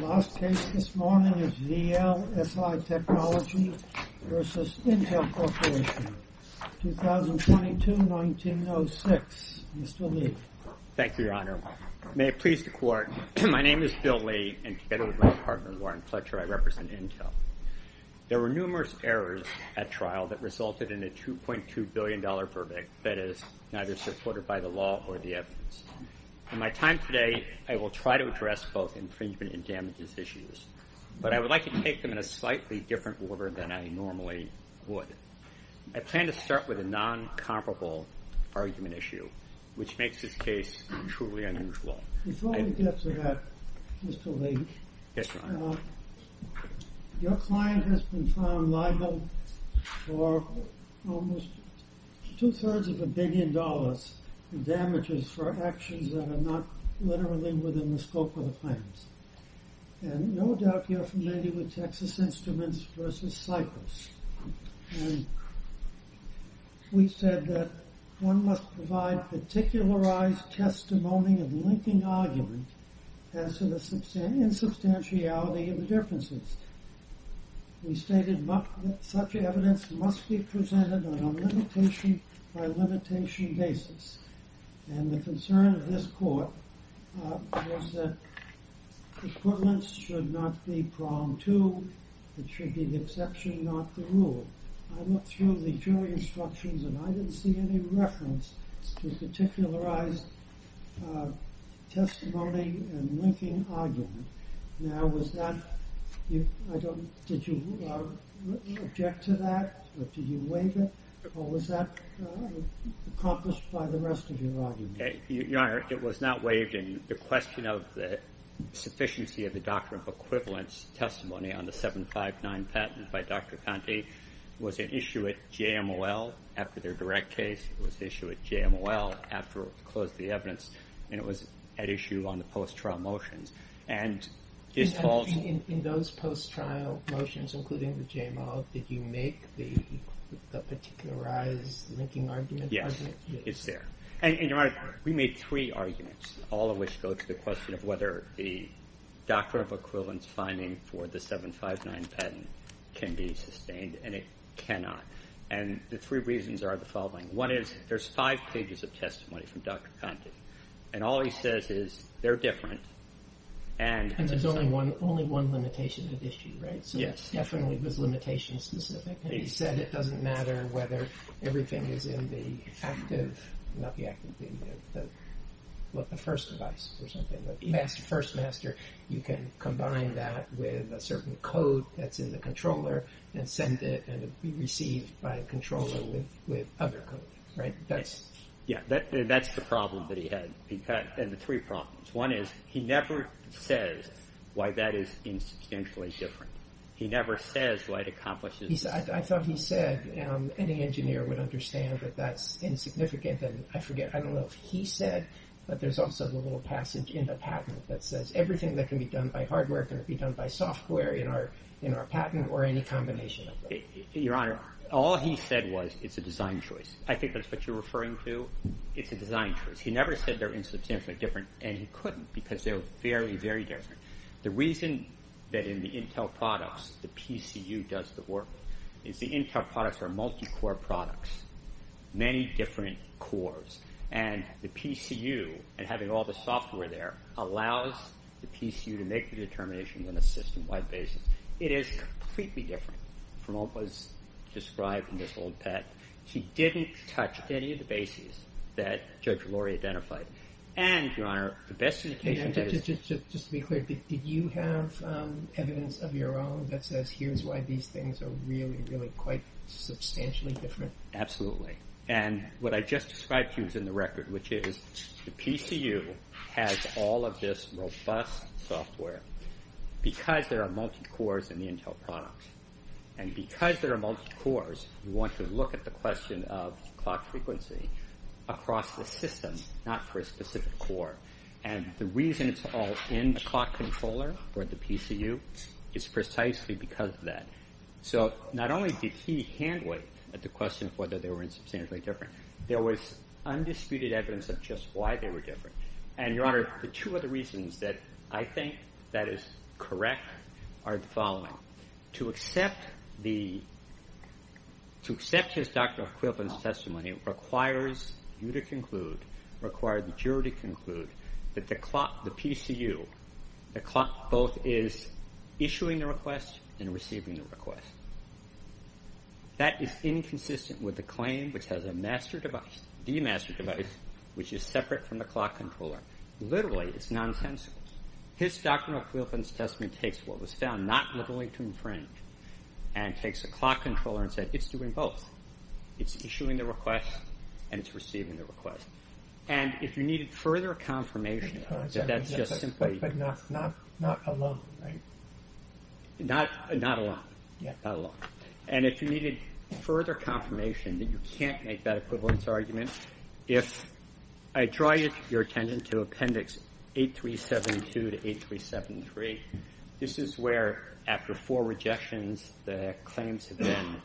The last case this morning is VLSI Technology v. Intel Corporation, 2022-1906. Mr. Lee. Thank you, Your Honor. May it please the Court, my name is Bill Lee, and together with my partner, Warren Fletcher, I represent Intel. There were numerous errors at trial that resulted in a $2.2 billion verdict that is neither supported by the law or the evidence. In my time today, I will try to address both infringement and damages issues, but I would like to take them in a slightly different order than I normally would. I plan to start with a non-comparable argument issue, which makes this case truly unusual. Before we get to that, Mr. Lee, your client has been found liable for almost two-thirds of a billion dollars in damages for actions that are not literally within the scope of the claims. And no doubt you're familiar with Texas Instruments v. Cypress. We said that one must provide particularized testimony of linking arguments as to the insubstantiality of the differences. We stated that such evidence must be presented on a limitation-by-limitation basis. And the concern of this Court was that equivalence should not be pronged to, it should be the exception, not the rule. I looked through the jury instructions and I didn't see any reference to a particularized testimony and linking argument. Now, did you object to that, or did you waive it, or was that accomplished by the rest of your argument? Your Honor, it was not waived. And the question of the sufficiency of the doctrine of equivalence testimony on the 759 patent by Dr. Conte was at issue at JMOL after their direct case. It was at issue at JMOL after we closed the evidence, and it was at issue on the post-trial motions. In those post-trial motions, including the JMOL, did you make the particularized linking argument argument? Yes, it's there. And, Your Honor, we made three arguments, all of which go to the question of whether the doctrine of equivalence finding for the 759 patent can be sustained, and it cannot. There's five pages of testimony from Dr. Conte, and all he says is, they're different. And there's only one limitation at issue, right? Yes. So it definitely was limitation-specific. He said it doesn't matter whether everything is in the first device or something. The first master, you can combine that with a certain code that's in the controller and send it and be received by a controller with other code, right? Yes, that's the problem that he had, and the three problems. One is, he never says why that is instantaneously different. He never says why it accomplishes… I thought he said any engineer would understand that that's insignificant, and I forget. I don't know if he said, but there's also the little passage in the patent that says everything that can be done by hardware can be done by software in our patent or any combination. Your Honor, all he said was it's a design choice. I think that's what you're referring to. It's a design choice. He never said they're instantaneously different, and he couldn't because they were very, very different. The reason that in the Intel products, the PCU does the work is the Intel products are multi-core products, many different cores. And the PCU, and having all the software there, allows the PCU to make the determination on a system-wide basis. It is completely different from what was described in this old patent. He didn't touch any of the bases that Judge Lori identified. And, Your Honor, the best indication… Just to be clear, did you have evidence of your own that says here's why these things are really, really quite substantially different? Absolutely. And what I just described to you is in the record, which is the PCU has all of this robust software because there are multi-cores in the Intel products. And because there are multi-cores, you want to look at the question of clock frequency across the system, not for a specific core. And the reason it's all in the clock controller or the PCU is precisely because of that. So not only did he hand wait at the question of whether they were instantaneously different, there was undisputed evidence of just why they were different. And, Your Honor, the two other reasons that I think that is correct are the following. To accept his Doctrine of Equivalence testimony requires you to conclude, requires the jury to conclude, that the PCU, the clock both is issuing the request and receiving the request. That is inconsistent with the claim which has a master device, the master device, which is separate from the clock controller. Literally, it's nonsensical. His Doctrine of Equivalence testimony takes what was found not literally to infringe and takes a clock controller and says it's doing both. It's issuing the request and it's receiving the request. And if you needed further confirmation that that's just simply... But not alone, right? Not alone. Not alone. And if you needed further confirmation that you can't make that equivalence argument, if I draw your attention to Appendix 8372 to 8373, this is where, after four rejections, the claims have been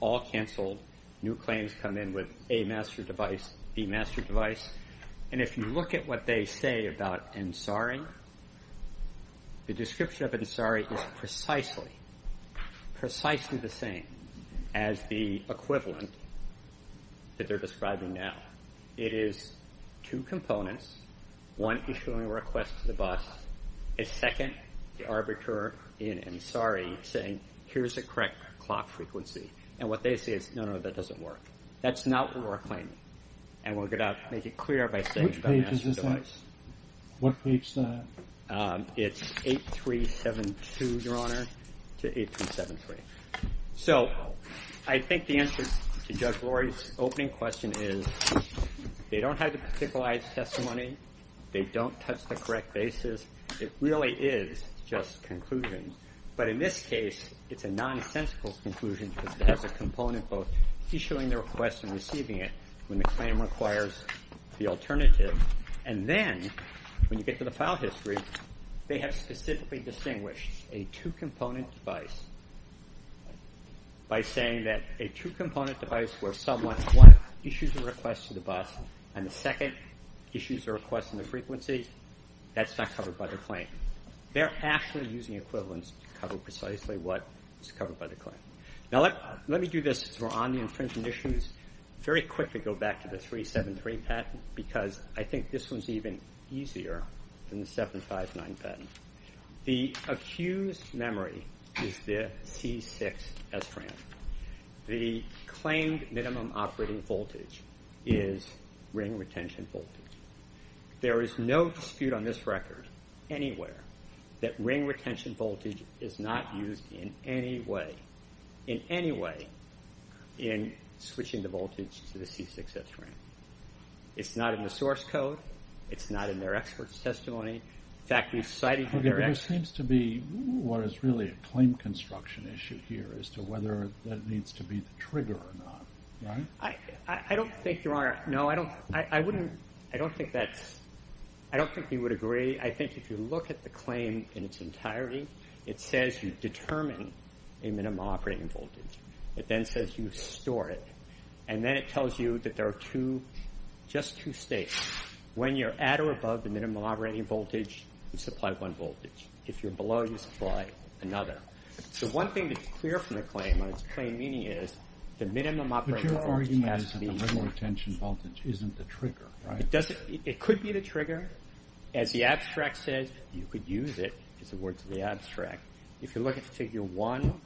all canceled. New claims come in with a master device, the master device. And if you look at what they say about Ansari, the description of Ansari is precisely, precisely the same as the equivalent that they're describing now. It is two components. One, issuing a request to the boss. A second, the arbiter in Ansari saying, here's a correct clock frequency. And what they say is, no, no, that doesn't work. That's not what we're claiming. And we're going to have to make it clear by saying it's a master device. Which page is this on? What page is this on? It's 8372, Your Honor, to 8373. So, I think the answer to Judge Rory's opening question is, they don't have the particularized testimony. They don't touch the correct basis. It really is just conclusions. But in this case, it's a nonsensical conclusion because it has a component both issuing the request and receiving it when the claim requires the alternative. And then, when you get to the file history, they have specifically distinguished a two-component device by saying that a two-component device where someone, one, issues a request to the boss, and the second issues a request on the frequency, that's not covered by the claim. They're actually using equivalence to cover precisely what is covered by the claim. Now, let me do this as we're on the infringement issues. Very quickly, go back to the 373 patent because I think this one's even easier than the 759 patent. The accused memory is the C6S RAM. The claimed minimum operating voltage is ring retention voltage. There is no dispute on this record anywhere that ring retention voltage is not used in any way, in any way, in switching the voltage to the C6S RAM. It's not in the source code. It's not in their expert's testimony. In fact, we've cited their expert. There seems to be what is really a claim construction issue here as to whether that needs to be the trigger or not, right? I don't think you're wrong. No, I wouldn't, I don't think that's, I don't think we would agree. I think if you look at the claim in its entirety, it says you determine a minimum operating voltage. It then says you store it, and then it tells you that there are two, just two states. When you're at or above the minimum operating voltage, you supply one voltage. If you're below, you supply another. So one thing that's clear from the claim and its plain meaning is the minimum operating voltage has to be. But your argument is that the ring retention voltage isn't the trigger, right? It could be the trigger. As the abstract says, you could use it, is the words of the abstract. If you look at figure one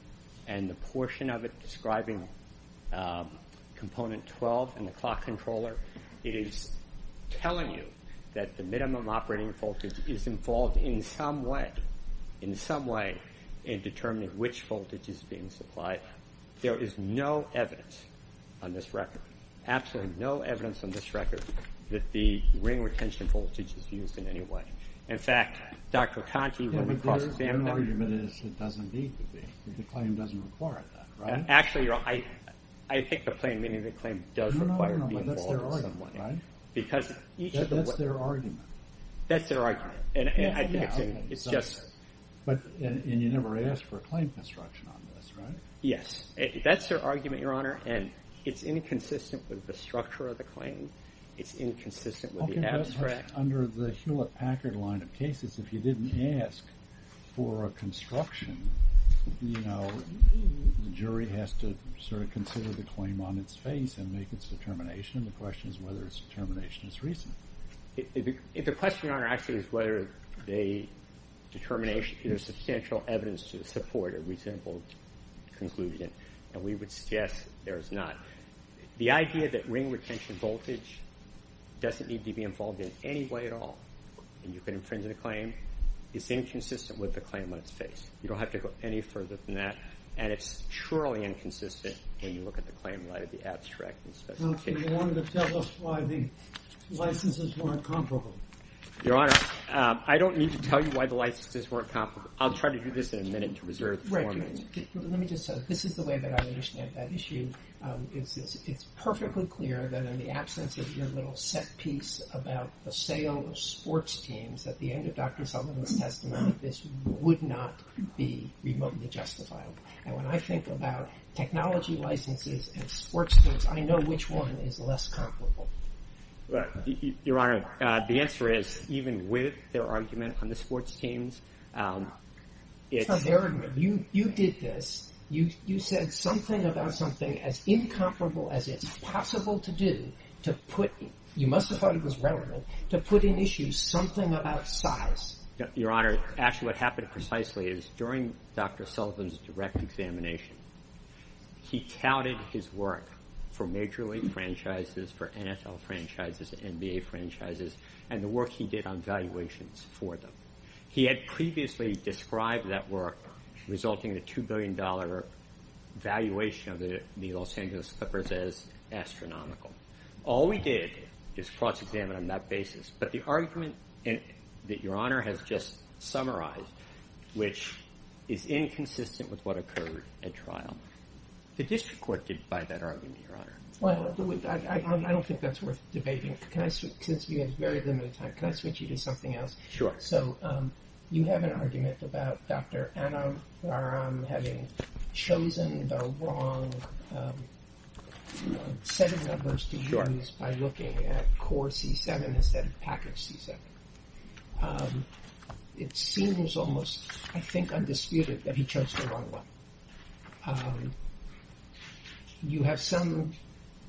and the portion of it describing component 12 and the clock controller, it is telling you that the minimum operating voltage is involved in some way, in some way in determining which voltage is being supplied. There is no evidence on this record, absolutely no evidence on this record, that the ring retention voltage is used in any way. In fact, Dr. Conti, when we cross-examined that. The argument is it doesn't need to be. The claim doesn't require that, right? Actually, I think the plain meaning of the claim does require being involved in some way. That's their argument. That's their argument. And you never asked for a claim construction on this, right? Yes, that's their argument, Your Honor, and it's inconsistent with the structure of the claim. It's inconsistent with the abstract. Under the Hewlett-Packard line of cases, if you didn't ask for a construction, you know, the jury has to sort of consider the claim on its face and make its determination, and the question is whether its determination is reasonable. If the question, Your Honor, actually is whether the determination, there's substantial evidence to support a reasonable conclusion, and we would suggest there is not. The idea that ring retention voltage doesn't need to be involved in any way at all, and you can infringe on a claim is inconsistent with the claim on its face. You don't have to go any further than that, and it's truly inconsistent when you look at the claim right at the abstract and specific case. You wanted to tell us why the licenses weren't comparable. Your Honor, I don't need to tell you why the licenses weren't comparable. I'll try to do this in a minute to reserve the form. Let me just say, this is the way that I understand that issue. It's perfectly clear that in the absence of your little set piece about the sale of sports teams, at the end of Dr. Sullivan's testimony, this would not be remotely justifiable, and when I think about technology licenses and sports teams, I know which one is less comparable. Your Honor, the answer is, even with their argument on the sports teams, it's— Even with their argument, you did this. You said something about something as incomparable as it's possible to do to put— you must have thought it was relevant to put in issue something about size. Your Honor, actually what happened precisely is during Dr. Sullivan's direct examination, he touted his work for Major League franchises, for NFL franchises, NBA franchises, and the work he did on valuations for them. He had previously described that work resulting in a $2 billion valuation of the Los Angeles Clippers as astronomical. All we did is cross-examine on that basis, but the argument that Your Honor has just summarized, which is inconsistent with what occurred at trial, the district court did buy that argument, Your Honor. Well, I don't think that's worth debating. Can I switch—since we have very limited time, can I switch you to something else? Sure. So you have an argument about Dr. Anam-Raram having chosen the wrong set of numbers to use by looking at core C7 instead of package C7. It seems almost, I think, undisputed that he chose the wrong one. You have some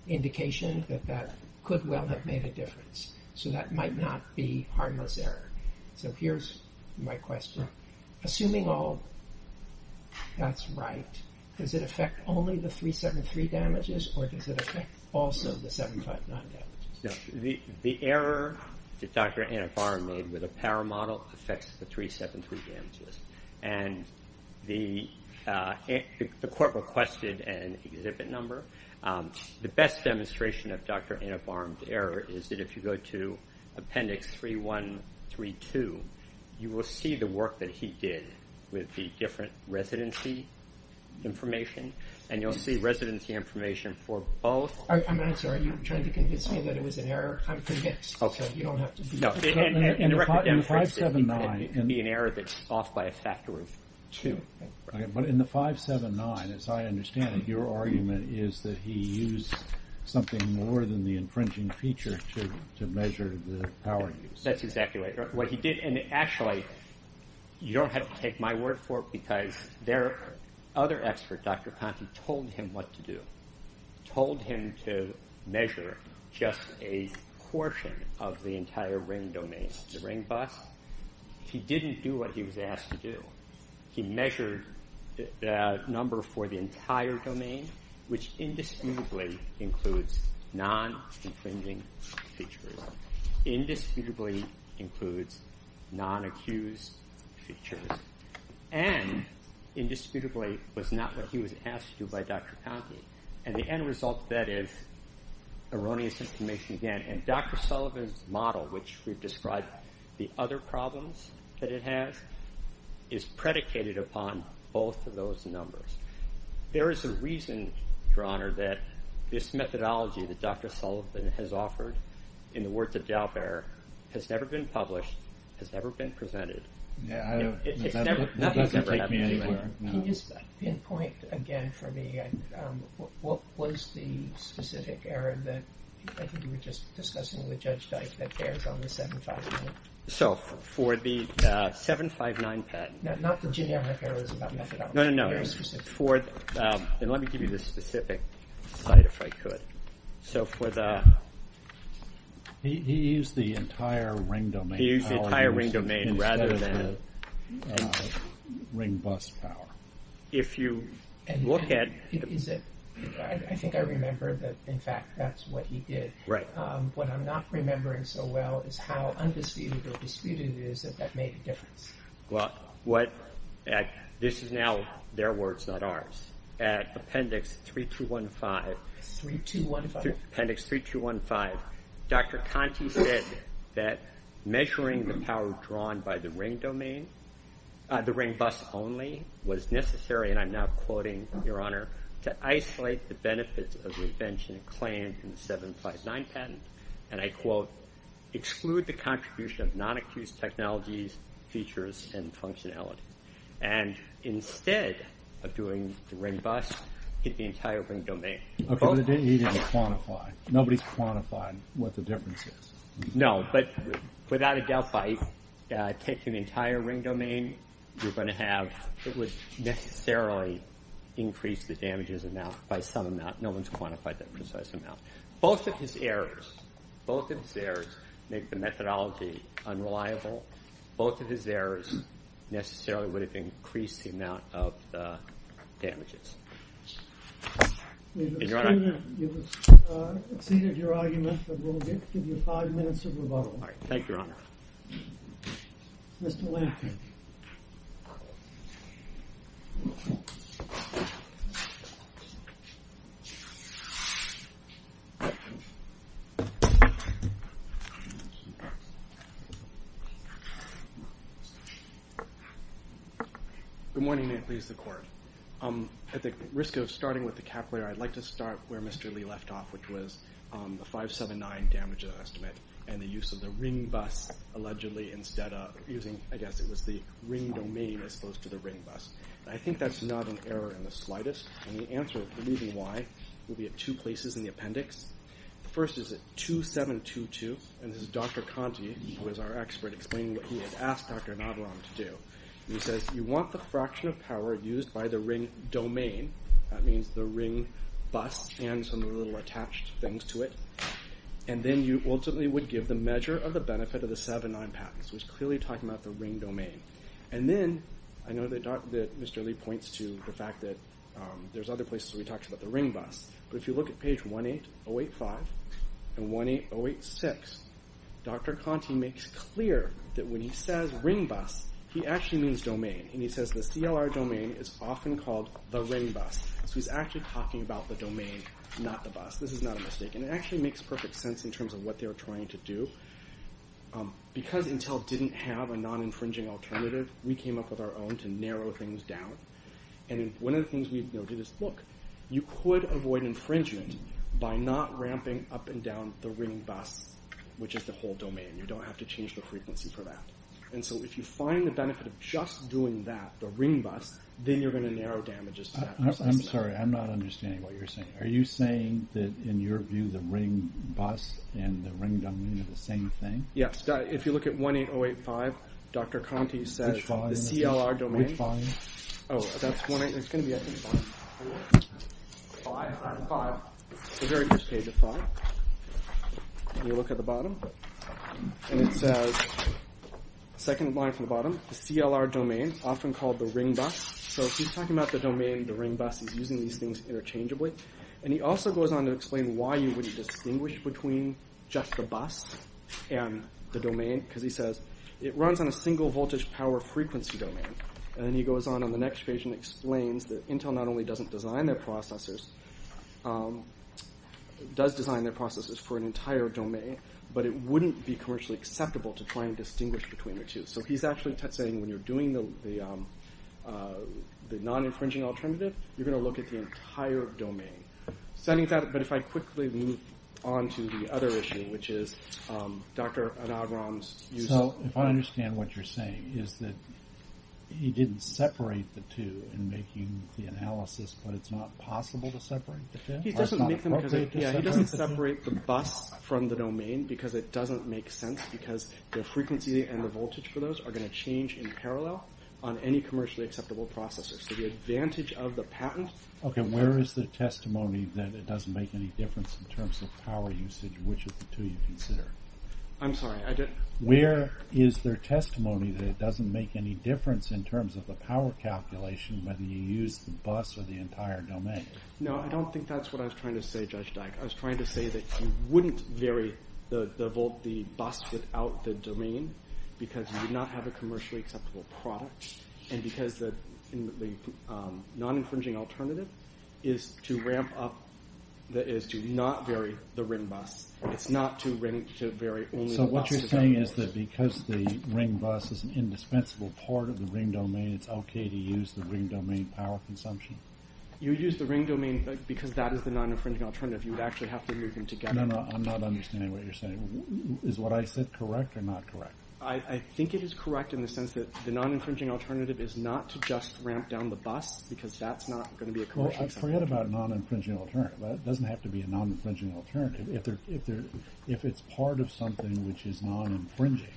indication that that could well have made a difference. So that might not be harmless error. So here's my question. Assuming all that's right, does it affect only the 373 damages or does it affect also the 759 damages? The error that Dr. Anam-Raram made with the power model affects the 373 damages. And the court requested an exhibit number. The best demonstration of Dr. Anam-Raram's error is that if you go to Appendix 3132, you will see the work that he did with the different residency information, and you'll see residency information for both— I'm sorry. Are you trying to convince me that it was an error? I'm confused. Okay. In the 579— It could be an error that's off by a factor of two. But in the 579, as I understand it, your argument is that he used something more than the infringing feature to measure the power use. That's exactly right. What he did—and actually, you don't have to take my word for it, because their other expert, Dr. Conti, told him what to do, told him to measure just a portion of the entire ring domain, the ring bus. He didn't do what he was asked to do. He measured the number for the entire domain, which indisputably includes non-infringing features, indisputably includes non-accused features, and indisputably was not what he was asked to do by Dr. Conti. And the end result of that is erroneous information again. And Dr. Sullivan's model, which we've described the other problems that it has, is predicated upon both of those numbers. There is a reason, Your Honor, that this methodology that Dr. Sullivan has offered, in the words of Dalbert, has never been published, has never been presented. Nothing has ever happened anywhere. Can you just pinpoint again for me what was the specific error that, I think you were just discussing with Judge Dyke, that bears on the 759? So for the 759 patent— Not the generic errors about methodology. No, no, no. Very specific. And let me give you the specific slide, if I could. So for the— He used the entire ring domain— He used the entire ring domain rather than— Ring bus power. If you look at— I think I remember that, in fact, that's what he did. Right. What I'm not remembering so well is how undisputed or disputed it is that that made a difference. Well, this is now their words, not ours. At Appendix 3215— 3215. Appendix 3215. Dr. Conte said that measuring the power drawn by the ring domain, the ring bus only, was necessary, and I'm now quoting Your Honor, to isolate the benefits of the invention claimed in the 759 patent, and I quote, exclude the contribution of non-accused technologies, features, and functionality. And instead of doing the ring bus, hit the entire ring domain. Okay, but he didn't quantify. Nobody quantified what the difference is. No, but without a Delphi, taking the entire ring domain, you're going to have— it would necessarily increase the damages amount by some amount. No one's quantified that precise amount. Both of his errors, both of his errors make the methodology unreliable. Both of his errors necessarily would have increased the amount of the damages. Is Your Honor— You've exceeded your argument, but we'll give you five minutes of rebuttal. All right. Thank you, Your Honor. Mr. Lampkin. Good morning. May it please the Court. At the risk of starting with the capillary, I'd like to start where Mr. Lee left off, which was the 579 damage estimate and the use of the ring bus, allegedly instead of using—I guess it was the ring domain as opposed to the ring bus. I think that's not an error in the slightest. And the answer, believe me why, will be at two places in the appendix. The first is at 2722, and this is Dr. Conti, who is our expert, explaining what he had asked Dr. Nadram to do. He says, you want the fraction of power used by the ring domain. That means the ring bus and some of the little attached things to it. And then you ultimately would give the measure of the benefit of the 709 patents. He was clearly talking about the ring domain. And then I know that Mr. Lee points to the fact that there's other places where he talks about the ring bus. But if you look at page 18085 and 18086, Dr. Conti makes clear that when he says ring bus, he actually means domain, and he says the CLR domain is often called the ring bus. So he's actually talking about the domain, not the bus. This is not a mistake, and it actually makes perfect sense in terms of what they were trying to do. Because Intel didn't have a non-infringing alternative, we came up with our own to narrow things down. And one of the things we noted is, look, you could avoid infringement by not ramping up and down the ring bus, which is the whole domain. You don't have to change the frequency for that. And so if you find the benefit of just doing that, the ring bus, then you're going to narrow damages to that person. I'm sorry, I'm not understanding what you're saying. Are you saying that, in your view, the ring bus and the ring domain are the same thing? Yes. If you look at 18085, Dr. Conti says the CLR domain. Which volume? Oh, that's 18085. Five, five, five. It's the very first page of five. And you look at the bottom, and it says, second line from the bottom, the CLR domain, often called the ring bus. So if he's talking about the domain, the ring bus, he's using these things interchangeably. And he also goes on to explain why you wouldn't distinguish between just the bus and the domain. Because he says, it runs on a single voltage power frequency domain. And then he goes on on the next page and explains that Intel not only doesn't design their processors, does design their processors for an entire domain, but it wouldn't be commercially acceptable to try and distinguish between the two. So he's actually saying, when you're doing the non-infringing alternative, you're going to look at the entire domain. But if I quickly move on to the other issue, which is Dr. Anagram's use of... So if I understand what you're saying, is that he didn't separate the two in making the analysis, but it's not possible to separate the two? He doesn't separate the bus from the domain because it doesn't make sense, because the frequency and the voltage for those are going to change in parallel on any commercially acceptable processor. So the advantage of the patent... Okay, where is the testimony that it doesn't make any difference in terms of power usage, which of the two you consider? I'm sorry, I didn't... Where is their testimony that it doesn't make any difference in terms of the power calculation, whether you use the bus or the entire domain? No, I don't think that's what I was trying to say, Judge Dyke. I was trying to say that you wouldn't vary the bus without the domain, because you would not have a commercially acceptable product, and because the non-infringing alternative is to not vary the ring bus. It's not to vary only the bus... So what you're saying is that because the ring bus is an indispensable part of the ring domain, it's okay to use the ring domain power consumption? You use the ring domain because that is the non-infringing alternative. You would actually have to move them together. No, no, I'm not understanding what you're saying. Is what I said correct or not correct? I think it is correct in the sense that the non-infringing alternative is not to just ramp down the bus, because that's not going to be a commercially acceptable... Well, forget about non-infringing alternative. It doesn't have to be a non-infringing alternative. If it's part of something which is non-infringing,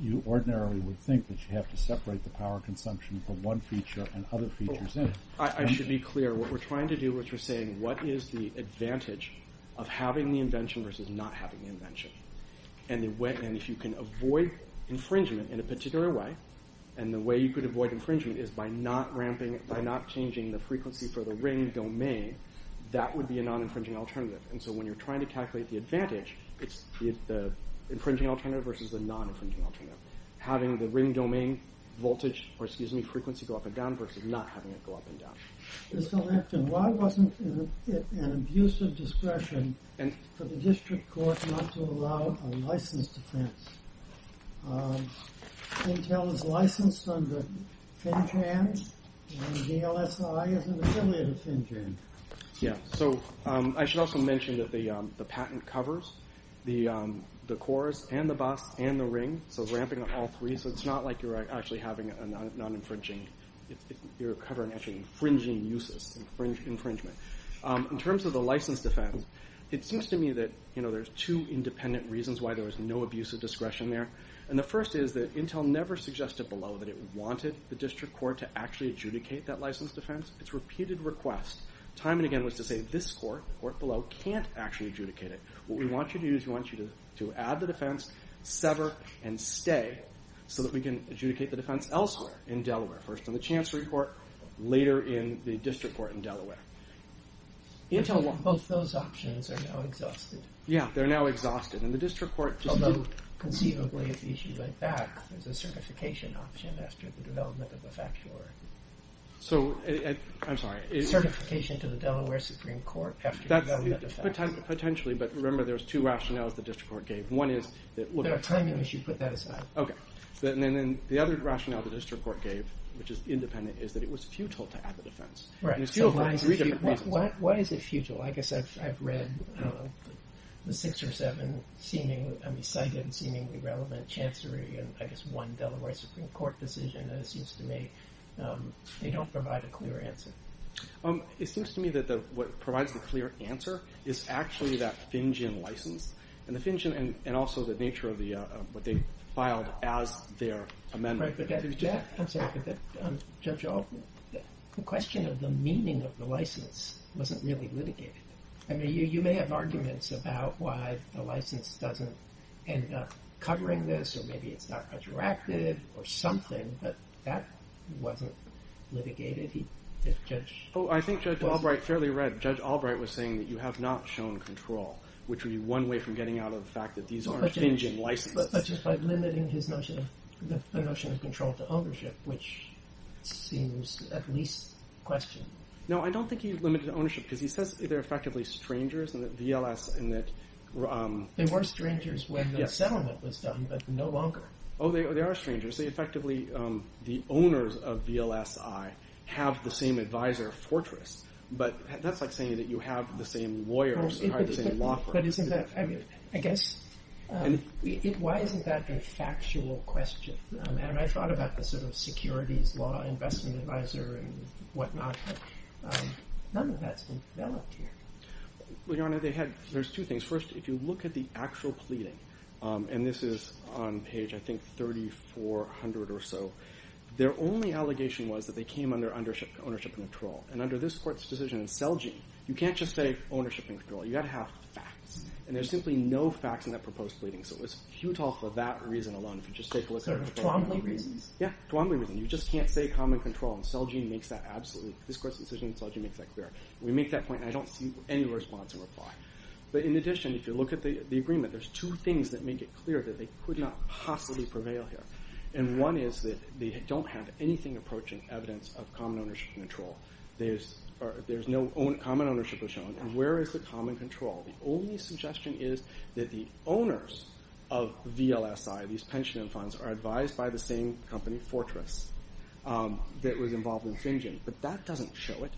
you ordinarily would think that you have to separate the power consumption from one feature and other features in. I should be clear. What we're trying to do is we're saying, what is the advantage of having the invention versus not having the invention? And if you can avoid infringement in a particular way, and the way you could avoid infringement is by not ramping, by not changing the frequency for the ring domain, that would be a non-infringing alternative. And so when you're trying to calculate the advantage, it's the infringing alternative versus the non-infringing alternative. Having the ring domain frequency go up and down versus not having it go up and down. Mr. Lampton, why wasn't it an abuse of discretion for the district court not to allow a licensed offense? Intel is licensed under FinChan, and DLSI is an affiliate of FinChan. Yeah, so I should also mention that the patent covers the cores and the bus and the ring, so ramping on all three, so it's not like you're actually having a non-infringing. You're covering actually infringing uses, infringement. In terms of the licensed offense, it seems to me that there's two independent reasons why there was no abuse of discretion there. And the first is that Intel never suggested below that it wanted the district court to actually adjudicate that licensed offense. It's a repeated request. Time and again was to say, this court, the court below, can't actually adjudicate it. What we want you to do is we want you to add the defense, sever, and stay, so that we can adjudicate the defense elsewhere in Delaware, first in the chancery court, later in the district court in Delaware. Both those options are now exhausted. Yeah, they're now exhausted. Although, conceivably, if the issue went back, there's a certification option after the development of the facture. I'm sorry. Certification to the Delaware Supreme Court after the development of the facture. Potentially, but remember, there's two rationales the district court gave. One is that... There are timing issues. Put that aside. Okay. And then the other rationale the district court gave, which is independent, is that it was futile to add the defense. Right. Why is it futile? I guess I've read the six or seven seemingly, I mean, cited and seemingly relevant chancery in, I guess, one Delaware Supreme Court decision, and it seems to me they don't provide a clear answer. It seems to me that what provides the clear answer is actually that FinGen license. And the FinGen, and also the nature of the, what they filed as their amendment. Right, but that, I'm sorry, but Judge Albright, the question of the meaning of the license wasn't really litigated. I mean, you may have arguments about why the license doesn't end up covering this, or maybe it's not retroactive or something, but that wasn't litigated. Judge... Oh, I think Judge Albright fairly read. Judge Albright was saying that you have not shown control, which would be one way from getting out of the fact that these aren't FinGen licenses. But just by limiting his notion of, the notion of control to ownership, which seems at least questioned. No, I don't think he's limited to ownership because he says they're effectively strangers and that VLS and that... They were strangers when the settlement was done, but no longer. Oh, they are strangers. They effectively, the owners of VLSI have the same advisor fortress, but that's like saying that you have the same lawyers and the same law firm. But isn't that, I mean, I guess, why isn't that a factual question? And I thought about the sort of securities law investment advisor and whatnot, but none of that's been developed here. Well, Your Honor, there's two things. First, if you look at the actual pleading, and this is on page, I think, 3400 or so, their only allegation was that they came under ownership control. And under this court's decision in Selge, you can't just say ownership and control. You gotta have facts. And there's simply no facts in that proposed pleading, so it was futile for that reason alone. If you just take a look at... Sort of Twombly reasons? Yeah, Twombly reasons. You just can't say common control, and Selge makes that absolutely... This court's decision in Selge makes that clear. We make that point, and I don't see any response or reply. But in addition, if you look at the agreement, there's two things that make it clear that they could not possibly prevail here. And one is that they don't have anything approaching evidence of common ownership control. There's no common ownership control. And where is the common control? The only suggestion is that the owners of VLSI, these pension funds, are advised by the same company, Fortress, that was involved in Xinjiang. But that doesn't show it.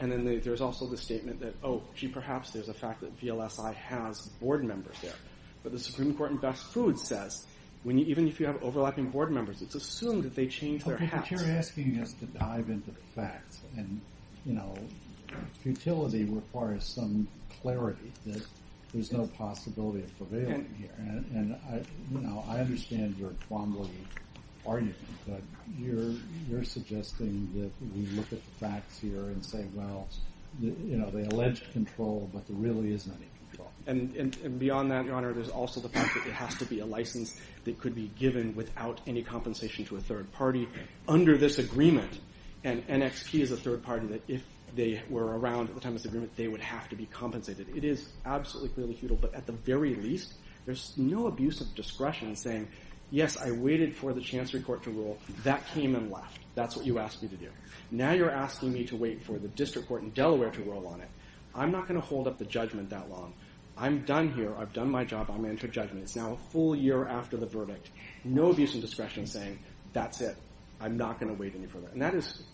And then there's also the statement that, oh, gee, perhaps there's a fact that VLSI has board members there. But the Supreme Court in Best Foods says, even if you have overlapping board members, it's assumed that they changed their hats. Okay, but you're asking us to dive into the facts and, you know, futility requires some clarity that there's no possibility of prevailing here. And, you know, I understand your quamble argument, but you're suggesting that we look at the facts here and say, well, you know, they allege control, but there really isn't any control. And beyond that, Your Honor, there's also the fact that there has to be a license that could be given without any compensation to a third party under this agreement. And NXP is a third party that, if they were around at the time of this agreement, they would have to be compensated. It is absolutely clearly futile. But at the very least, there's no abuse of discretion saying, yes, I waited for the Chancery Court to rule. That came and left. That's what you asked me to do. Now you're asking me to wait for the District Court in Delaware to rule on it. I'm not going to hold up the judgment that long. I'm done here. I've done my job. I'm going to take judgment. It's now a full year after the verdict. No abuse of discretion saying, that's it. I'm not going to wait any further. And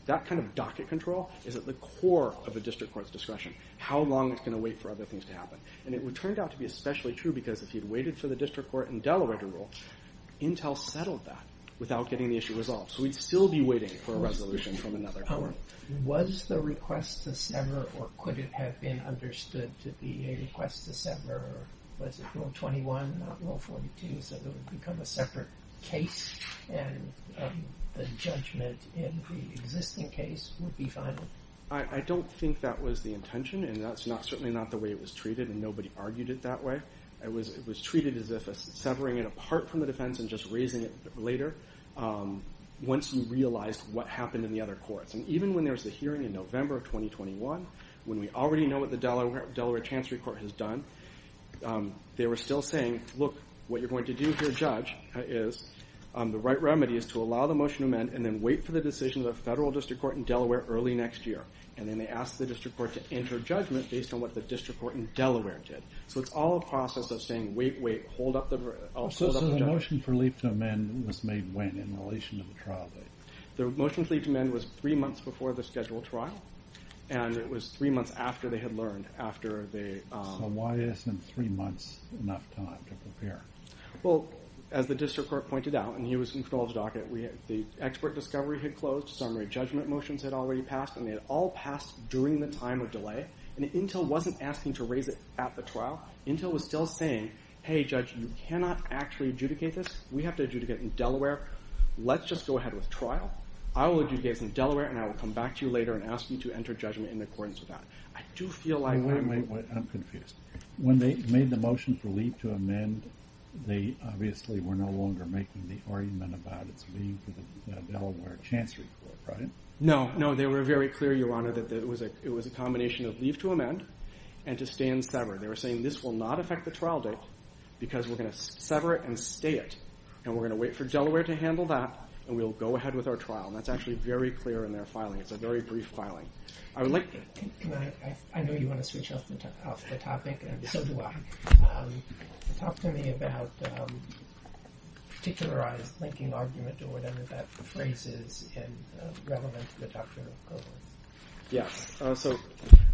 that kind of docket control is at the core of a District Court's discretion, how long it's going to wait for other things to happen. And it turned out to be especially true because if you'd waited for the District Court in Delaware to rule, Intel settled that without getting the issue resolved. So we'd still be waiting for a resolution from another court. Was the request to sever or could it have been understood to be a request to sever, or was it Rule 21, not Rule 42, so it would become a separate case and the judgment in the existing case would be final? I don't think that was the intention and that's certainly not the way it was treated and nobody argued it that way. It was treated as if severing it apart from the defense and just raising it later once you realized what happened in the other courts. And even when there was a hearing in November of 2021, when we already know what the Delaware Chancery Court has done, they were still saying, look, what you're going to do here, Judge, is the right remedy is to allow the motion to amend and then wait for the decision of the Federal District Court in Delaware early next year. And then they asked the District Court to enter judgment based on what the District Court in Delaware did. So it's all a process of saying, wait, wait, hold up the judgment. So the motion for leave to amend was made when in relation to the trial date? The motion to leave to amend was three months before the scheduled trial and it was three months after they had learned. So why isn't three months enough time to prepare? Well, as the District Court pointed out, and he was in Knoll's docket, the expert discovery had closed, summary judgment motions had already passed, and they had all passed during the time of delay. And Intel wasn't asking to raise it at the trial. Intel was still saying, hey, Judge, you cannot actually adjudicate this. We have to adjudicate in Delaware. Let's just go ahead with trial. I will adjudicate in Delaware and I will come back to you later and ask you to enter judgment in accordance with that. I do feel like... Wait, wait, wait, I'm confused. When they made the motion for leave to amend, they obviously were no longer making the argument about its leave for the Delaware Chancery Court, right? No, no, they were very clear, Your Honor, that it was a combination of leave to amend and to stay and sever. They were saying this will not affect the trial date because we're going to sever it and stay it. And we're going to wait for Delaware to handle that and we'll go ahead with our trial. And that's actually very clear in their filing. It's a very brief filing. I know you want to switch off the topic, and so do I. Talk to me about the particularized linking argument or whatever that phrase is relevant to the Doctrine of Equivalence. Yeah, so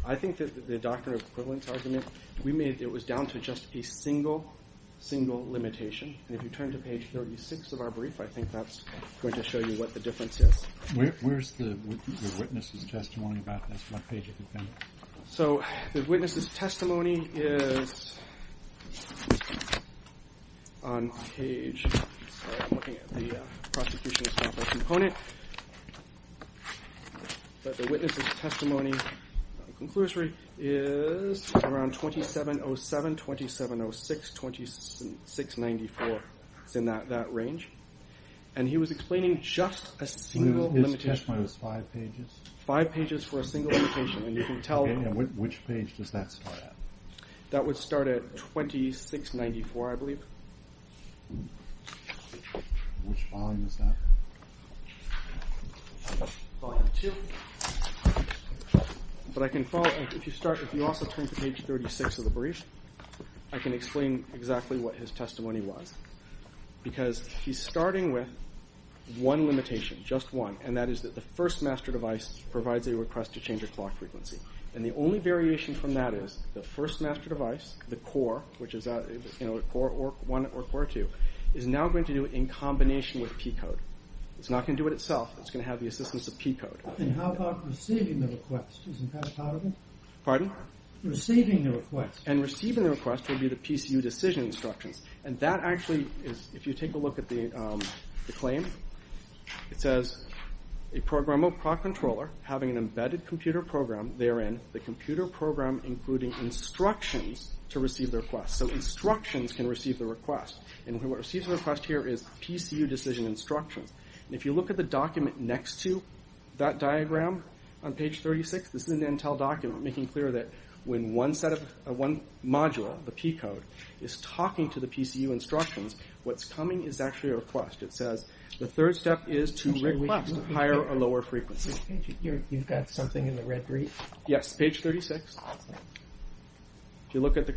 I think that the Doctrine of Equivalence argument, it was down to just a single, single limitation. And if you turn to page 36 of our brief, I think that's going to show you what the difference is. Where's the witness' testimony about this? What page have you found it? So the witness' testimony is on page... Sorry, I'm looking at the Prosecution's Composite Component. But the witness' testimony, the conclusory, is around 2707, 2706, 2694. It's in that range. And he was explaining just a single limitation. So his testimony was five pages? Five pages for a single limitation, and you can tell... Okay, and which page does that start at? That would start at 2694, I believe. Which volume is that? Volume 2. But I can follow... If you also turn to page 36 of the brief, I can explain exactly what his testimony was. Because he's starting with one limitation, just one. And that is that the first master device provides a request to change a clock frequency. And the only variation from that is the first master device, the core, which is core 1 or core 2, is now going to do it in combination with P-code. It's not going to do it itself. It's going to have the assistance of P-code. And how about receiving the request? Isn't that part of it? Pardon? Receiving the request. And receiving the request will be the PCU decision instructions. And that actually is... If you take a look at the claim, it says, a programmable clock controller having an embedded computer program, therein the computer program including instructions to receive the request. So instructions can receive the request. And what receives the request here is PCU decision instructions. And if you look at the document next to that diagram on page 36, this is an Intel document making clear that when one module, the P-code, is talking to the PCU instructions, what's coming is actually a request. It says, the third step is to request a higher or lower frequency. You've got something in the red brief? Yes, page 36. If you look at the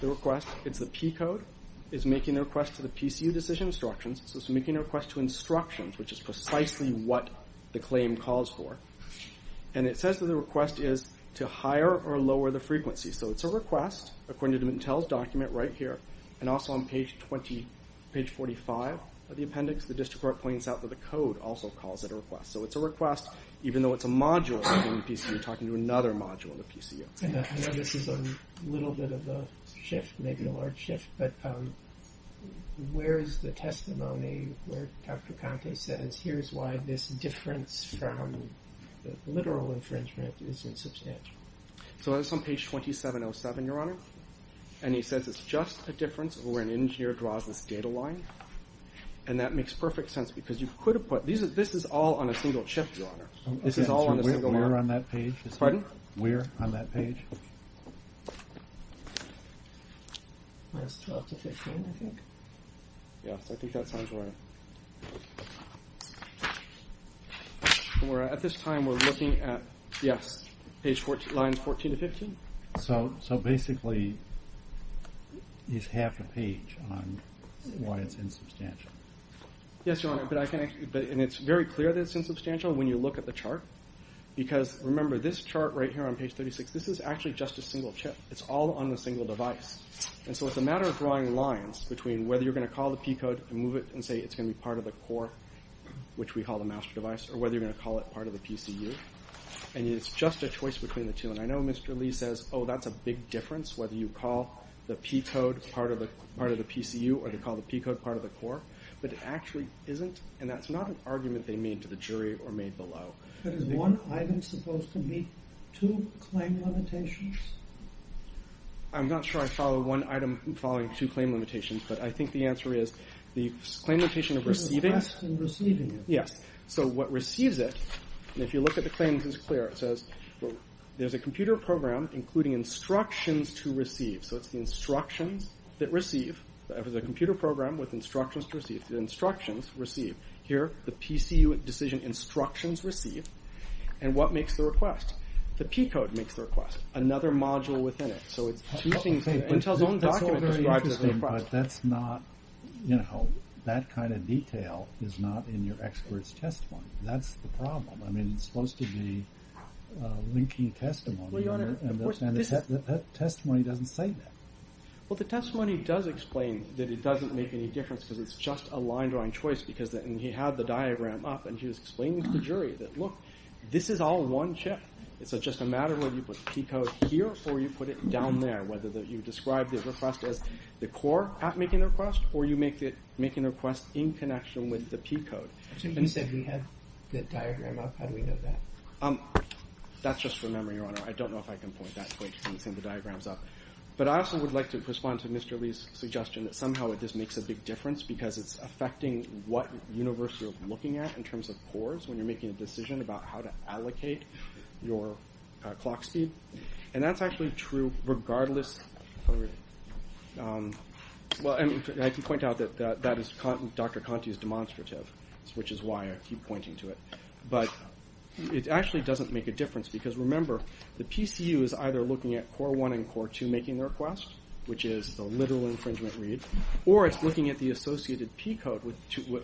request, it's the P-code is making a request to the PCU decision instructions. So it's making a request to instructions, which is precisely what the claim calls for. And it says that the request is to higher or lower the frequency. So it's a request, according to the Intel document right here, and also on page 45 of the appendix, the district court points out that the code also calls it a request. So it's a request, even though it's a module in the PCU talking to another module in the PCU. I know this is a little bit of a shift, maybe a large shift, but where is the testimony where Dr. Conte says, here's why this difference from literal infringement is insubstantial? So that's on page 2707, Your Honor. And he says it's just a difference where an engineer draws this data line. And that makes perfect sense because you could have put, this is all on a single chip, Your Honor. This is all on a single line. Where on that page? Pardon? Where on that page? Minus 12 to 15, I think. Yes, I think that sounds right. At this time, we're looking at, yes, page 14, lines 14 to 15. So basically, it's half a page on why it's insubstantial. Yes, Your Honor, but I can, and it's very clear that it's insubstantial when you look at the chart because remember this chart right here on page 36, this is actually just a single chip. It's all on a single device. And so it's a matter of drawing lines between whether you're going to call the P code and move it and say it's going to be part of the core, which we call the master device, or whether you're going to call it part of the PCU. And it's just a choice between the two. And I know Mr. Lee says, oh, that's a big difference whether you call the P code part of the PCU or you call the P code part of the core, but it actually isn't, and that's not an argument they made to the jury or made below. But is one item supposed to meet two claim limitations? I'm not sure I follow one item following two claim limitations, but I think the answer is the claim limitation of receiving. The request in receiving it. Yes, so what receives it, and if you look at the claims, it's clear. It says there's a computer program including instructions to receive. So it's the instructions that receive. There's a computer program with instructions to receive. The instructions receive. Here, the PCU decision instructions receive. And what makes the request? The P code makes the request. Another module within it. So it's two things. Intel's own document describes the request. But that's not, you know, that kind of detail is not in your expert's testimony. That's the problem. I mean, it's supposed to be linking testimony. And that testimony doesn't say that. Well, the testimony does explain that it doesn't make any difference because it's just a line drawing choice because he had the diagram up and he was explaining to the jury that, look, this is all one chip. It's just a matter of whether you put the P code here or you put it down there, whether you describe the request as the core at making the request or you make the request in connection with the P code. So you said he had the diagram up. How do we know that? That's just from memory, Your Honor. I don't know if I can point that point to him saying the diagram's up. But I also would like to respond to Mr. Lee's suggestion that somehow it just makes a big difference because it's affecting what universe you're looking at in terms of cores when you're making a decision about how to allocate your clock speed. And that's actually true regardless. Well, I can point out that Dr. Conti is demonstrative. Which is why I keep pointing to it. But it actually doesn't make a difference because, remember, the PCU is either looking at core one and core two making the request, which is the literal infringement read, or it's looking at the associated P code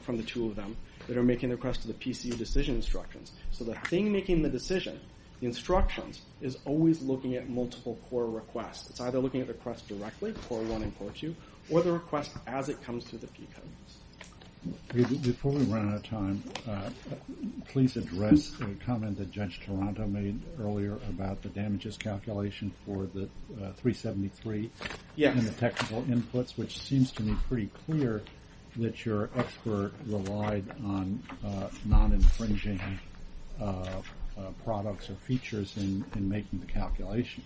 from the two of them that are making the request to the PCU decision instructions. So the thing making the decision, the instructions, is always looking at multiple core requests. It's either looking at the request directly, core one and core two, or the request as it comes through the P code. Before we run out of time, please address the comment that Judge Toronto made earlier about the damages calculation for the 373 and the technical inputs, which seems to me pretty clear that your expert relied on non-infringing products or features in making the calculation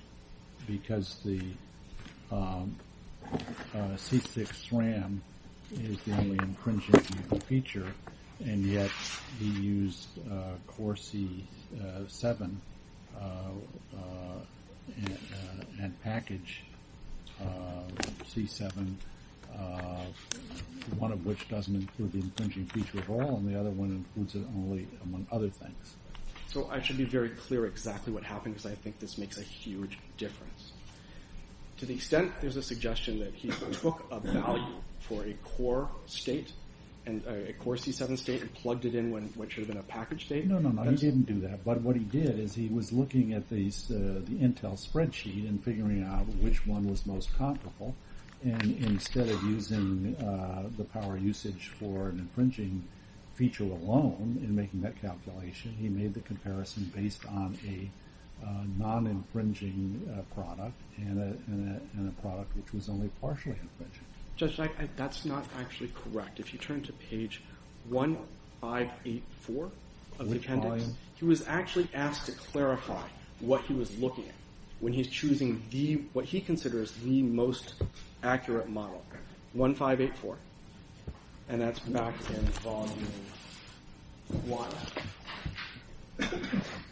because the C6 RAM is the only infringing feature and yet he used core C7 and packaged C7, one of which doesn't include the infringing feature at all and the other one includes it only among other things. So I should be very clear exactly what happened because I think this makes a huge difference. To the extent there's a suggestion that he took a value for a core state, a core C7 state, and plugged it in what should have been a packaged state. No, no, no, he didn't do that. But what he did is he was looking at the Intel spreadsheet and figuring out which one was most comparable and instead of using the power usage for an infringing feature alone in making that calculation, he made the comparison based on a non-infringing product and a product which was only partially infringing. Judge, that's not actually correct. If you turn to page 1584 of the appendix, he was actually asked to clarify what he was looking at when he's choosing what he considers the most accurate model, 1584, and that's back in volume one.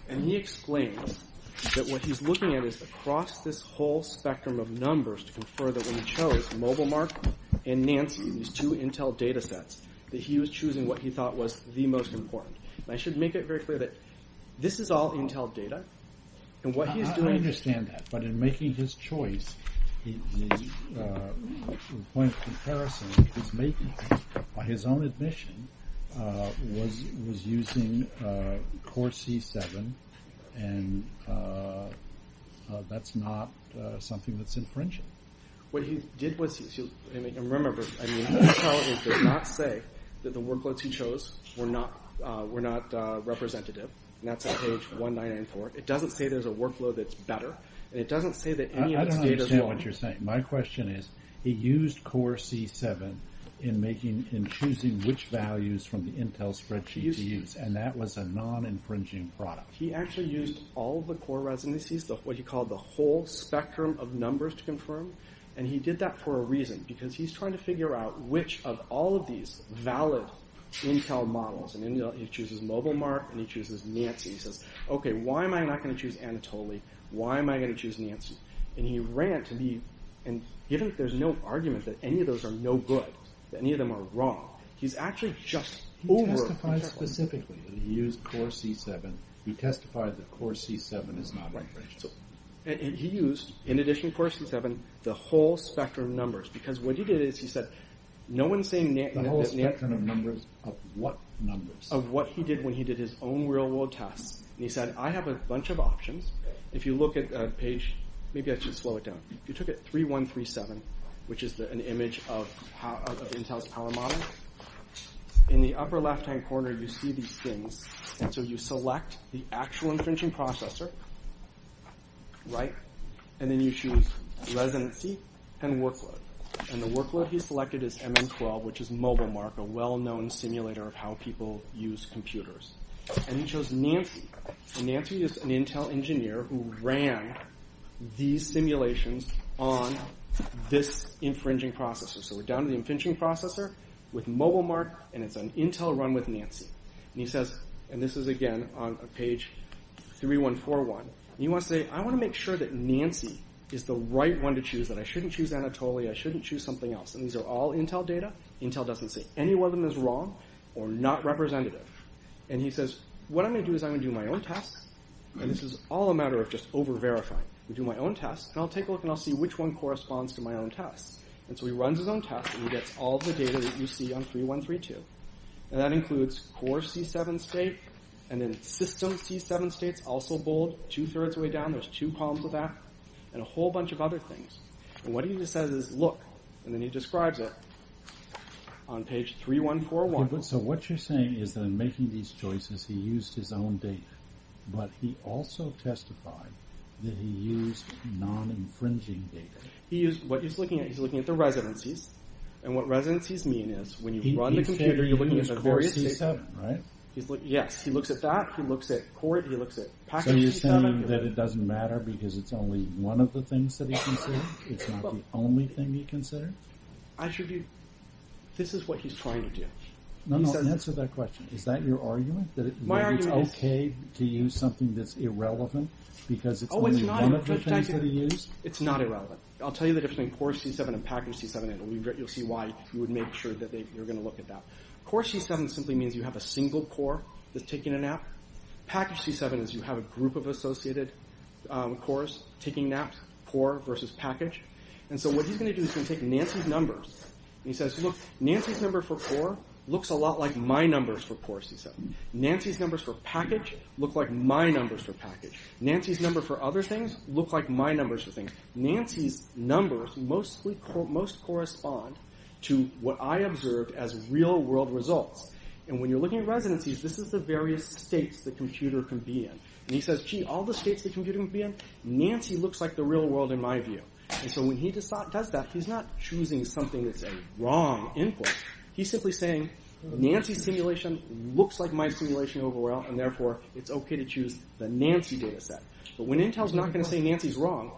And he explains that what he's looking at is across this whole spectrum of numbers to confer that when he chose MobileMark and Nancy, these two Intel datasets, that he was choosing what he thought was the most important. And I should make it very clear that this is all Intel data and what he's doing... I understand that, but in making his choice, the point of comparison he's making, by his own admission, was using Core C7, and that's not something that's infringing. What he did was... And remember, Intel does not say that the workloads he chose were not representative, and that's on page 194. It doesn't say there's a workload that's better, and it doesn't say that any of this data is wrong. I don't understand what you're saying. My question is, he used Core C7 in choosing which values from the Intel spreadsheet to use, and that was a non-infringing product. He actually used all of the core residencies, what he called the whole spectrum of numbers to confirm, and he did that for a reason, because he's trying to figure out which of all of these valid Intel models, and he chooses MobileMark, and he chooses Nancy. He says, okay, why am I not going to choose Anatoly? Why am I going to choose Nancy? And he ran to me, and there's no argument that any of those are no good, that any of them are wrong. He's actually just over... He testified specifically that he used Core C7. He testified that Core C7 is not infringing. And he used, in addition to Core C7, the whole spectrum of numbers, because what he did is, he said, no one's saying... The whole spectrum of numbers of what numbers? Of what he did when he did his own real-world tests, and he said, I have a bunch of options. If you look at page... Maybe I should slow it down. He took it 3137, which is an image of Intel's power model. In the upper left-hand corner, you see these things, and so you select the actual infringing processor, right? And then you choose residency and workload, and the workload he selected is MN12, which is MobileMark, a well-known simulator of how people use computers. And he chose Nancy. And Nancy is an Intel engineer who ran these simulations on this infringing processor. So we're down to the infringing processor with MobileMark, and it's an Intel run with Nancy. And he says... And this is, again, on page 3141. And he wants to say, I want to make sure that Nancy is the right one to choose, that I shouldn't choose Anatolia, I shouldn't choose something else. And these are all Intel data. Intel doesn't say any one of them is wrong or not representative. And he says, what I'm going to do is I'm going to do my own test, and this is all a matter of just over-verifying. I'll do my own test, and I'll take a look, and I'll see which one corresponds to my own test. And so he runs his own test, and he gets all the data that you see on 3132. And that includes core C7 state, and then system C7 states, also bold, two-thirds of the way down, there's two columns of that, and a whole bunch of other things. And what he just says is, look. And then he describes it on page 3141. So what you're saying is that in making these choices, he used his own data. But he also testified that he used non-infringing data. He used what he's looking at. He's looking at the residencies. And what residencies mean is, when you run the computer, you're looking at the various states. He's looking at core C7, right? Yes, he looks at that. He looks at core. He looks at packages. So you're saying that it doesn't matter because it's only one of the things that he considers? It's not the only thing he considers? This is what he's trying to do. No, no, answer that question. Is that your argument? My argument is... That it's okay to use something that's irrelevant because it's only one of the things that he used? It's not irrelevant. I'll tell you the difference between core C7 and package C7, and you'll see why you would make sure that you're going to look at that. Core C7 simply means you have a single core that's taking a nap. Package C7 is you have a group of associated cores taking naps, core versus package. And so what he's going to do is he's going to take Nancy's numbers, and he says, look, Nancy's number for core looks a lot like my numbers for core C7. Nancy's numbers for package look like my numbers for package. Nancy's number for other things look like my numbers for things. Nancy's numbers most correspond to what I observed as real-world results. And when you're looking at residencies, this is the various states the computer can be in. And he says, gee, all the states the computer can be in, Nancy looks like the real world in my view. And so when he does that, he's not choosing something that's a wrong input. He's simply saying, Nancy's simulation looks like my simulation overall, and therefore it's okay to choose the Nancy dataset. But when Intel's not going to say Nancy's wrong,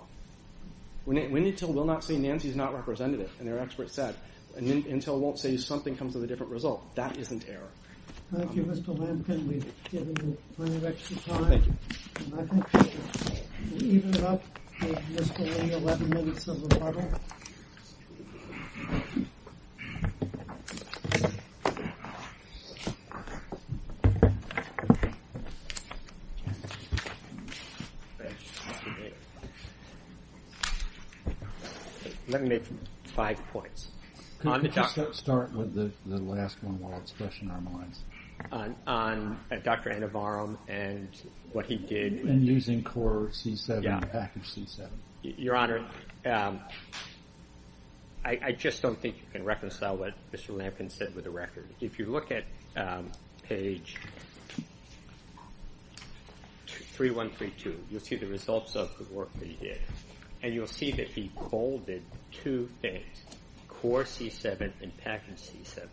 when Intel will not say Nancy's not representative, and their experts said, and Intel won't say something comes with a different result, that isn't error. Thank you, Mr. Lampkin. We've given you plenty of extra time. Thank you. I think we've evened it up. We've missed only 11 minutes of the model. Let me make five points. Could we just start with the last one while it's fresh in our minds? On Dr. Anavarum and what he did. And using core C7 and package C7. Your Honor, I just don't think you can reconcile what Mr. Lampkin said with the record. If you look at page 3132, you'll see the results of the work that he did. And you'll see that he coded two things, core C7 and package C7.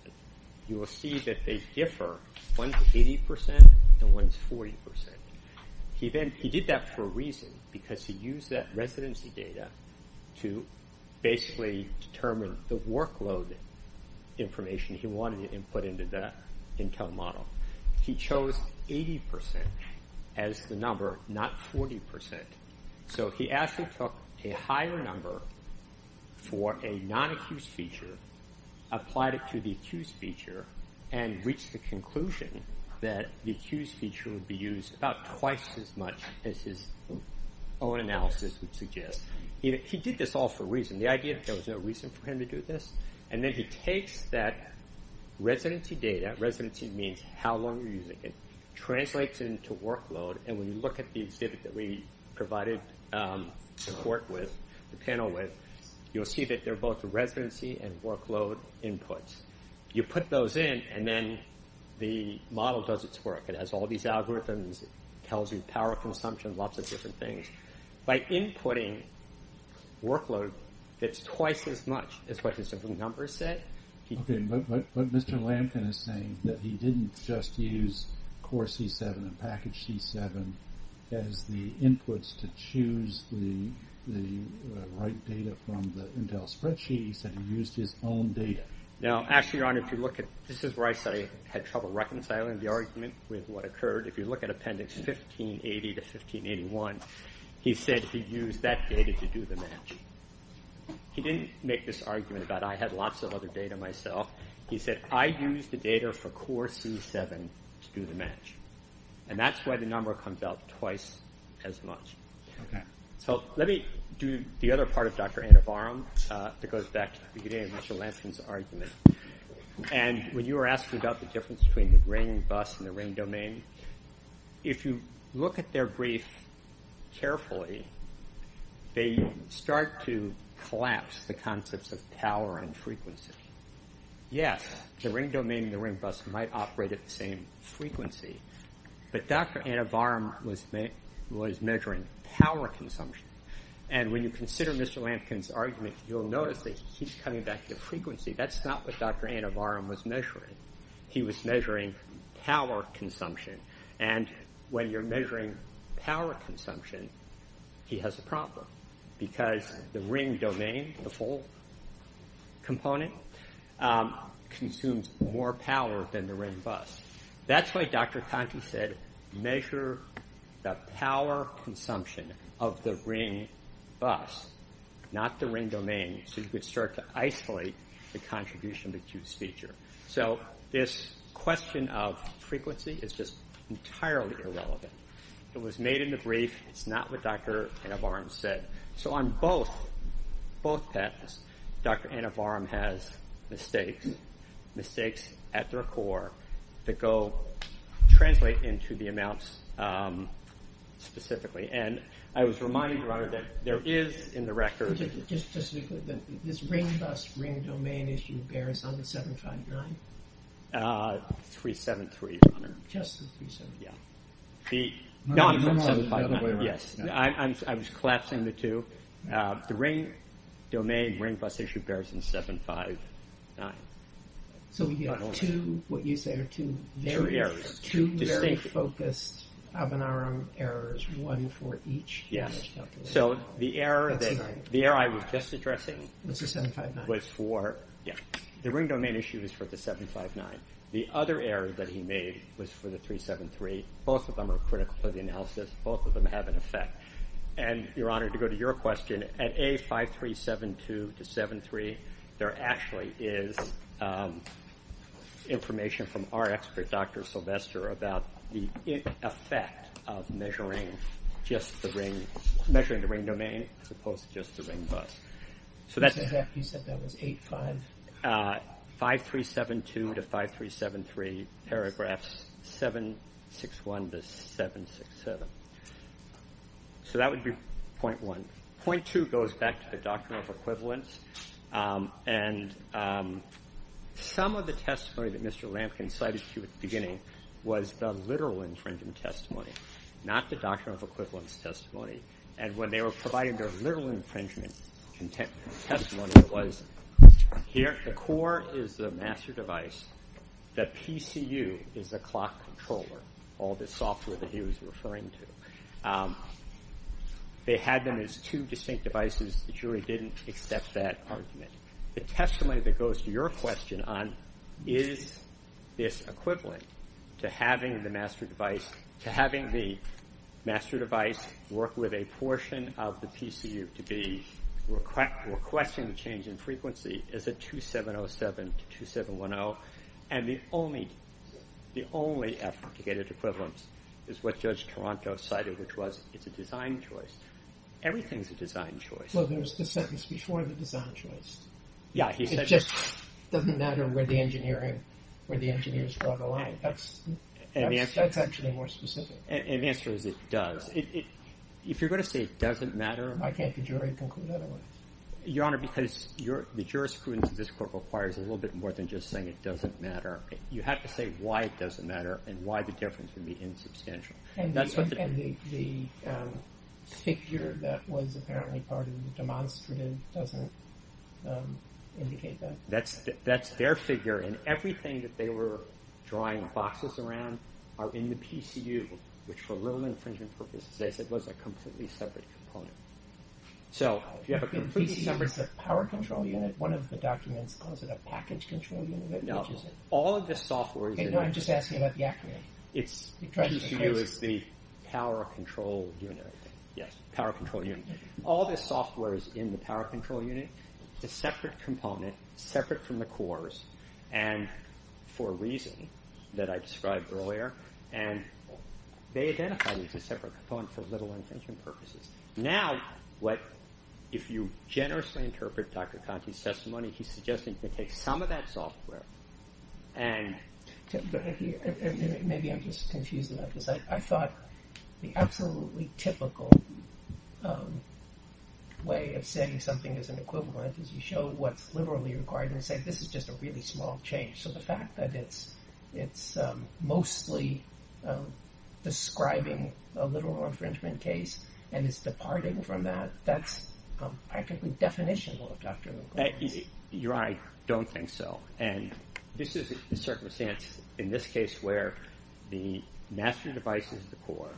You will see that they differ. One's 80% and one's 40%. He did that for a reason, because he used that residency data to basically determine the workload information he wanted to input into the Intel model. He chose 80% as the number, not 40%. So he actually took a higher number for a non-accused feature, applied it to the accused feature, and reached the conclusion that the accused feature would be used about twice as much as his own analysis would suggest. He did this all for a reason. The idea that there was no reason for him to do this. And then he takes that residency data, residency means how long you're using it, translates it into workload, and when you look at the exhibit that we provided support with, the panel with, you'll see that they're both residency and workload inputs. You put those in, and then the model does its work. It has all these algorithms, tells you power consumption, lots of different things. By inputting workload, it's twice as much as what the simple numbers said. Okay, but Mr. Lampkin is saying that he didn't just use core C7 and package C7 as the inputs to choose the right data from the Intel spreadsheet. He said he used his own data. Now, actually, Your Honor, if you look at, this is where I said I had trouble reconciling the argument with what occurred. If you look at appendix 1580 to 1581, he said he used that data to do the match. He didn't make this argument about, I had lots of other data myself. He said, I used the data for core C7 to do the match. And that's why the number comes out twice as much. Okay. So let me do the other part of Dr. Anavarum that goes back to the beginning of Mr. Lampkin's argument. And when you were asking about the difference between the ring bus and the ring domain, if you look at their brief carefully, they start to collapse the concepts of power and frequency. Yes, the ring domain and the ring bus might operate at the same frequency. But Dr. Anavarum was measuring power consumption. And when you consider Mr. Lampkin's argument, you'll notice that he keeps coming back to frequency. That's not what Dr. Anavarum was measuring. He was measuring power consumption. And when you're measuring power consumption, he has a problem because the ring domain, the full component, consumes more power than the ring bus. That's why Dr. Conti said, measure the power consumption of the ring bus, not the ring domain, so you could start to isolate the contribution to Q's feature. So this question of frequency is just entirely irrelevant. It was made in the brief. It's not what Dr. Anavarum said. So on both paths, Dr. Anavarum has mistakes, mistakes at their core, that translate into the amounts specifically. And I was reminding you, Your Honor, that there is in the record... Just to be clear, this ring bus, ring domain issue bears on the 759? 373, Your Honor. Just the 373? Yeah. No, no, no. Yes. I was collapsing the two. The ring domain, ring bus issue bears in 759. So we've got two, what you say, are two very focused Avanarum errors, one for each? Yes. So the error I was just addressing was for... The ring domain issue is for the 759. The other error that he made was for the 373. Both of them are critical for the analysis. Both of them have an effect. And, Your Honor, to go to your question, at A5372-73, there actually is information from our expert, Dr. Sylvester, about the effect of measuring just the ring, measuring the ring domain as opposed to just the ring bus. So that's... Exactly. You said that was 85? A5372-5373, paragraphs 761-767. So that would be point one. Point two goes back to the Doctrine of Equivalence. And some of the testimony that Mr. Lampkin cited to you at the beginning was the literal infringement testimony, not the Doctrine of Equivalence testimony. And when they were providing their literal infringement testimony, it was, here, the core is the master device. The PCU is the clock controller, all this software that he was referring to. They had them as two distinct devices. The jury didn't accept that argument. The testimony that goes to your question on, is this equivalent to having the master device work with a portion of the PCU to be requesting change in frequency, is it 2707-2710? And the only effort to get at equivalence is what Judge Toronto cited, which was it's a design choice. Everything's a design choice. Well, there's the sentence before the design choice. Yeah, he said... It just doesn't matter where the engineers draw the line. That's actually more specific. And the answer is it does. If you're going to say it doesn't matter... Why can't the jury conclude otherwise? Your Honor, because the jurisprudence of this court requires a little bit more than just saying it doesn't matter. You have to say why it doesn't matter and why the difference would be insubstantial. And the figure that was apparently part of the demonstrative doesn't indicate that. That's their figure, and everything that they were drawing boxes around are in the PCU, which for a little infringement purposes, as I said, was a completely separate component. So if you have a PCU... The PCU is a power control unit. One of the documents calls it a package control unit. No, all of the software... I'm just asking about the acronym. It's PCU is the power control unit. Yes, power control unit. All the software is in the power control unit. It's a separate component, separate from the cores, and for a reason that I described earlier. They identify these as separate components for little infringement purposes. Now, if you generously interpret Dr. Conti's testimony, he's suggesting they take some of that software and... Maybe I'm just confusing that. I thought the absolutely typical way of saying something is an equivalent is you show what's literally required and say this is just a really small change. So the fact that it's mostly describing a little infringement case and it's departing from that, that's practically definitional of Dr. McCormick's. Your Honor, I don't think so. And this is the circumstance in this case where the master device is the core,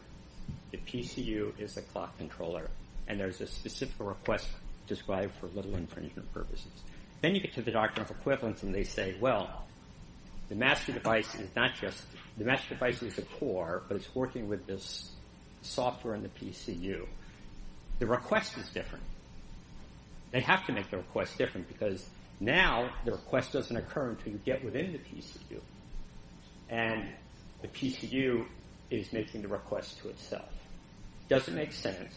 the PCU is the clock controller, and there's a specific request described for little infringement purposes. Then you get to the doctrine of equivalence, and they say, well, the master device is not just... The master device is the core, but it's working with this software in the PCU. The request is different. They have to make the request different because now the request doesn't occur until you get within the PCU, and the PCU is making the request to itself. It doesn't make sense.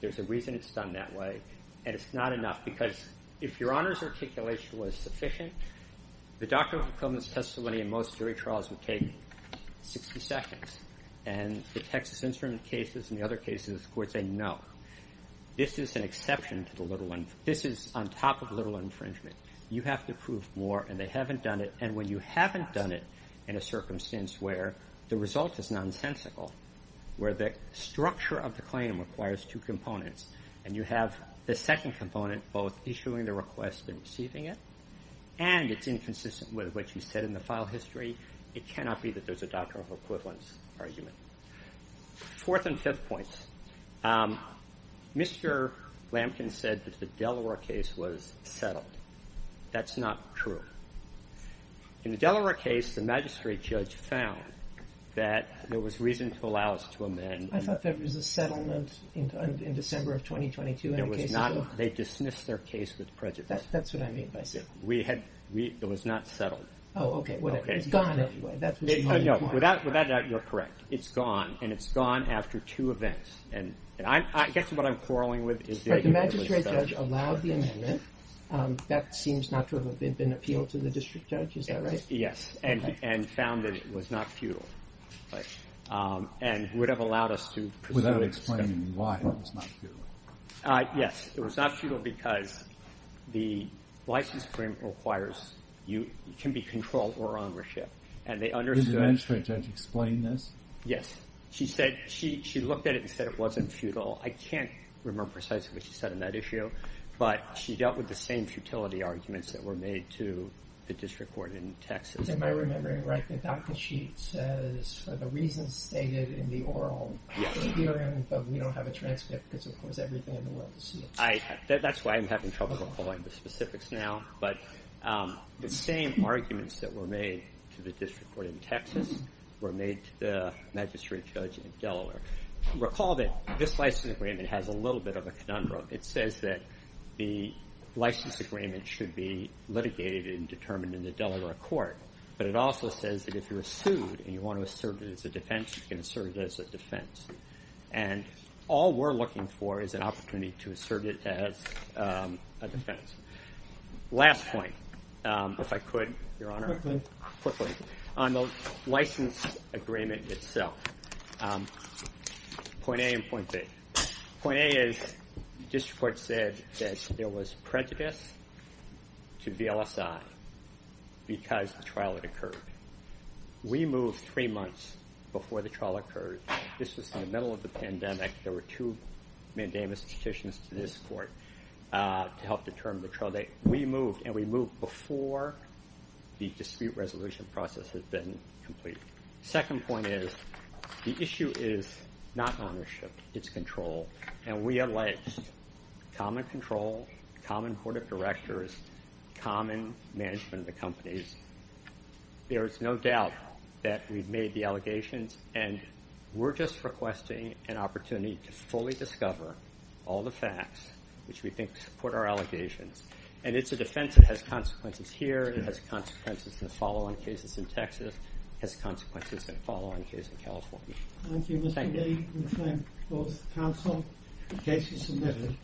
There's a reason it's done that way, and it's not enough because if Your Honor's articulation was sufficient, the doctrine of equivalence testimony in most jury trials would take 60 seconds, and the Texas Instrument cases and the other cases, the courts say no. This is an exception to the little... This is on top of little infringement. You have to prove more, and they haven't done it, and when you haven't done it in a circumstance where the result is nonsensical, where the structure of the claim requires two components, and you have the second component both issuing the request and receiving it, and it's inconsistent with what you said in the file history, it cannot be that there's a doctrine of equivalence argument. Fourth and fifth points. Mr. Lamkin said that the Delaware case was settled. That's not true. In the Delaware case, the magistrate judge found that there was reason to allow us to amend... They dismissed their case with prejudice. That's what I mean by... It was not settled. Oh, okay. It's gone anyway. Without a doubt, you're correct. It's gone, and it's gone after two events. I guess what I'm quarreling with is... The magistrate judge allowed the amendment. That seems not to have been appealed to the district judge. Is that right? Yes, and found that it was not futile and would have allowed us to... Without explaining why it was not futile. Yes, it was not futile because the license agreement can be controlled or on worship. Did the magistrate judge explain this? Yes. She looked at it and said it wasn't futile. I can't remember precisely what she said on that issue, but she dealt with the same futility arguments that were made to the district court in Texas. Am I remembering right that Dr. Sheets says for the reasons stated in the oral hearing, but we don't have a transcript because, of course, everything in the will is... That's why I'm having trouble recalling the specifics now, but the same arguments that were made to the district court in Texas were made to the magistrate judge in Delaware. Recall that this license agreement has a little bit of a conundrum. It says that the license agreement should be litigated and determined in the Delaware court, but it also says that if you're sued and you want to assert it as a defense, you can assert it as a defense. And all we're looking for is an opportunity to assert it as a defense. Last point, if I could, Your Honor, quickly, on the license agreement itself, point A and point B. Point A is the district court said that there was prejudice to VLSI because the trial had occurred. We moved three months before the trial occurred. This was in the middle of the pandemic. There were two mandamus petitions to this court to help determine the trial date. We moved, and we moved before the dispute resolution process had been completed. Second point is the issue is not ownership. It's control, and we alleged common control, common court of directors, common management of the companies. There is no doubt that we've made the allegations, and we're just requesting an opportunity to fully discover all the facts which we think support our allegations. And it's a defense that has consequences here. It has consequences in the follow-on cases in Texas. It has consequences in the follow-on case in California. Thank you.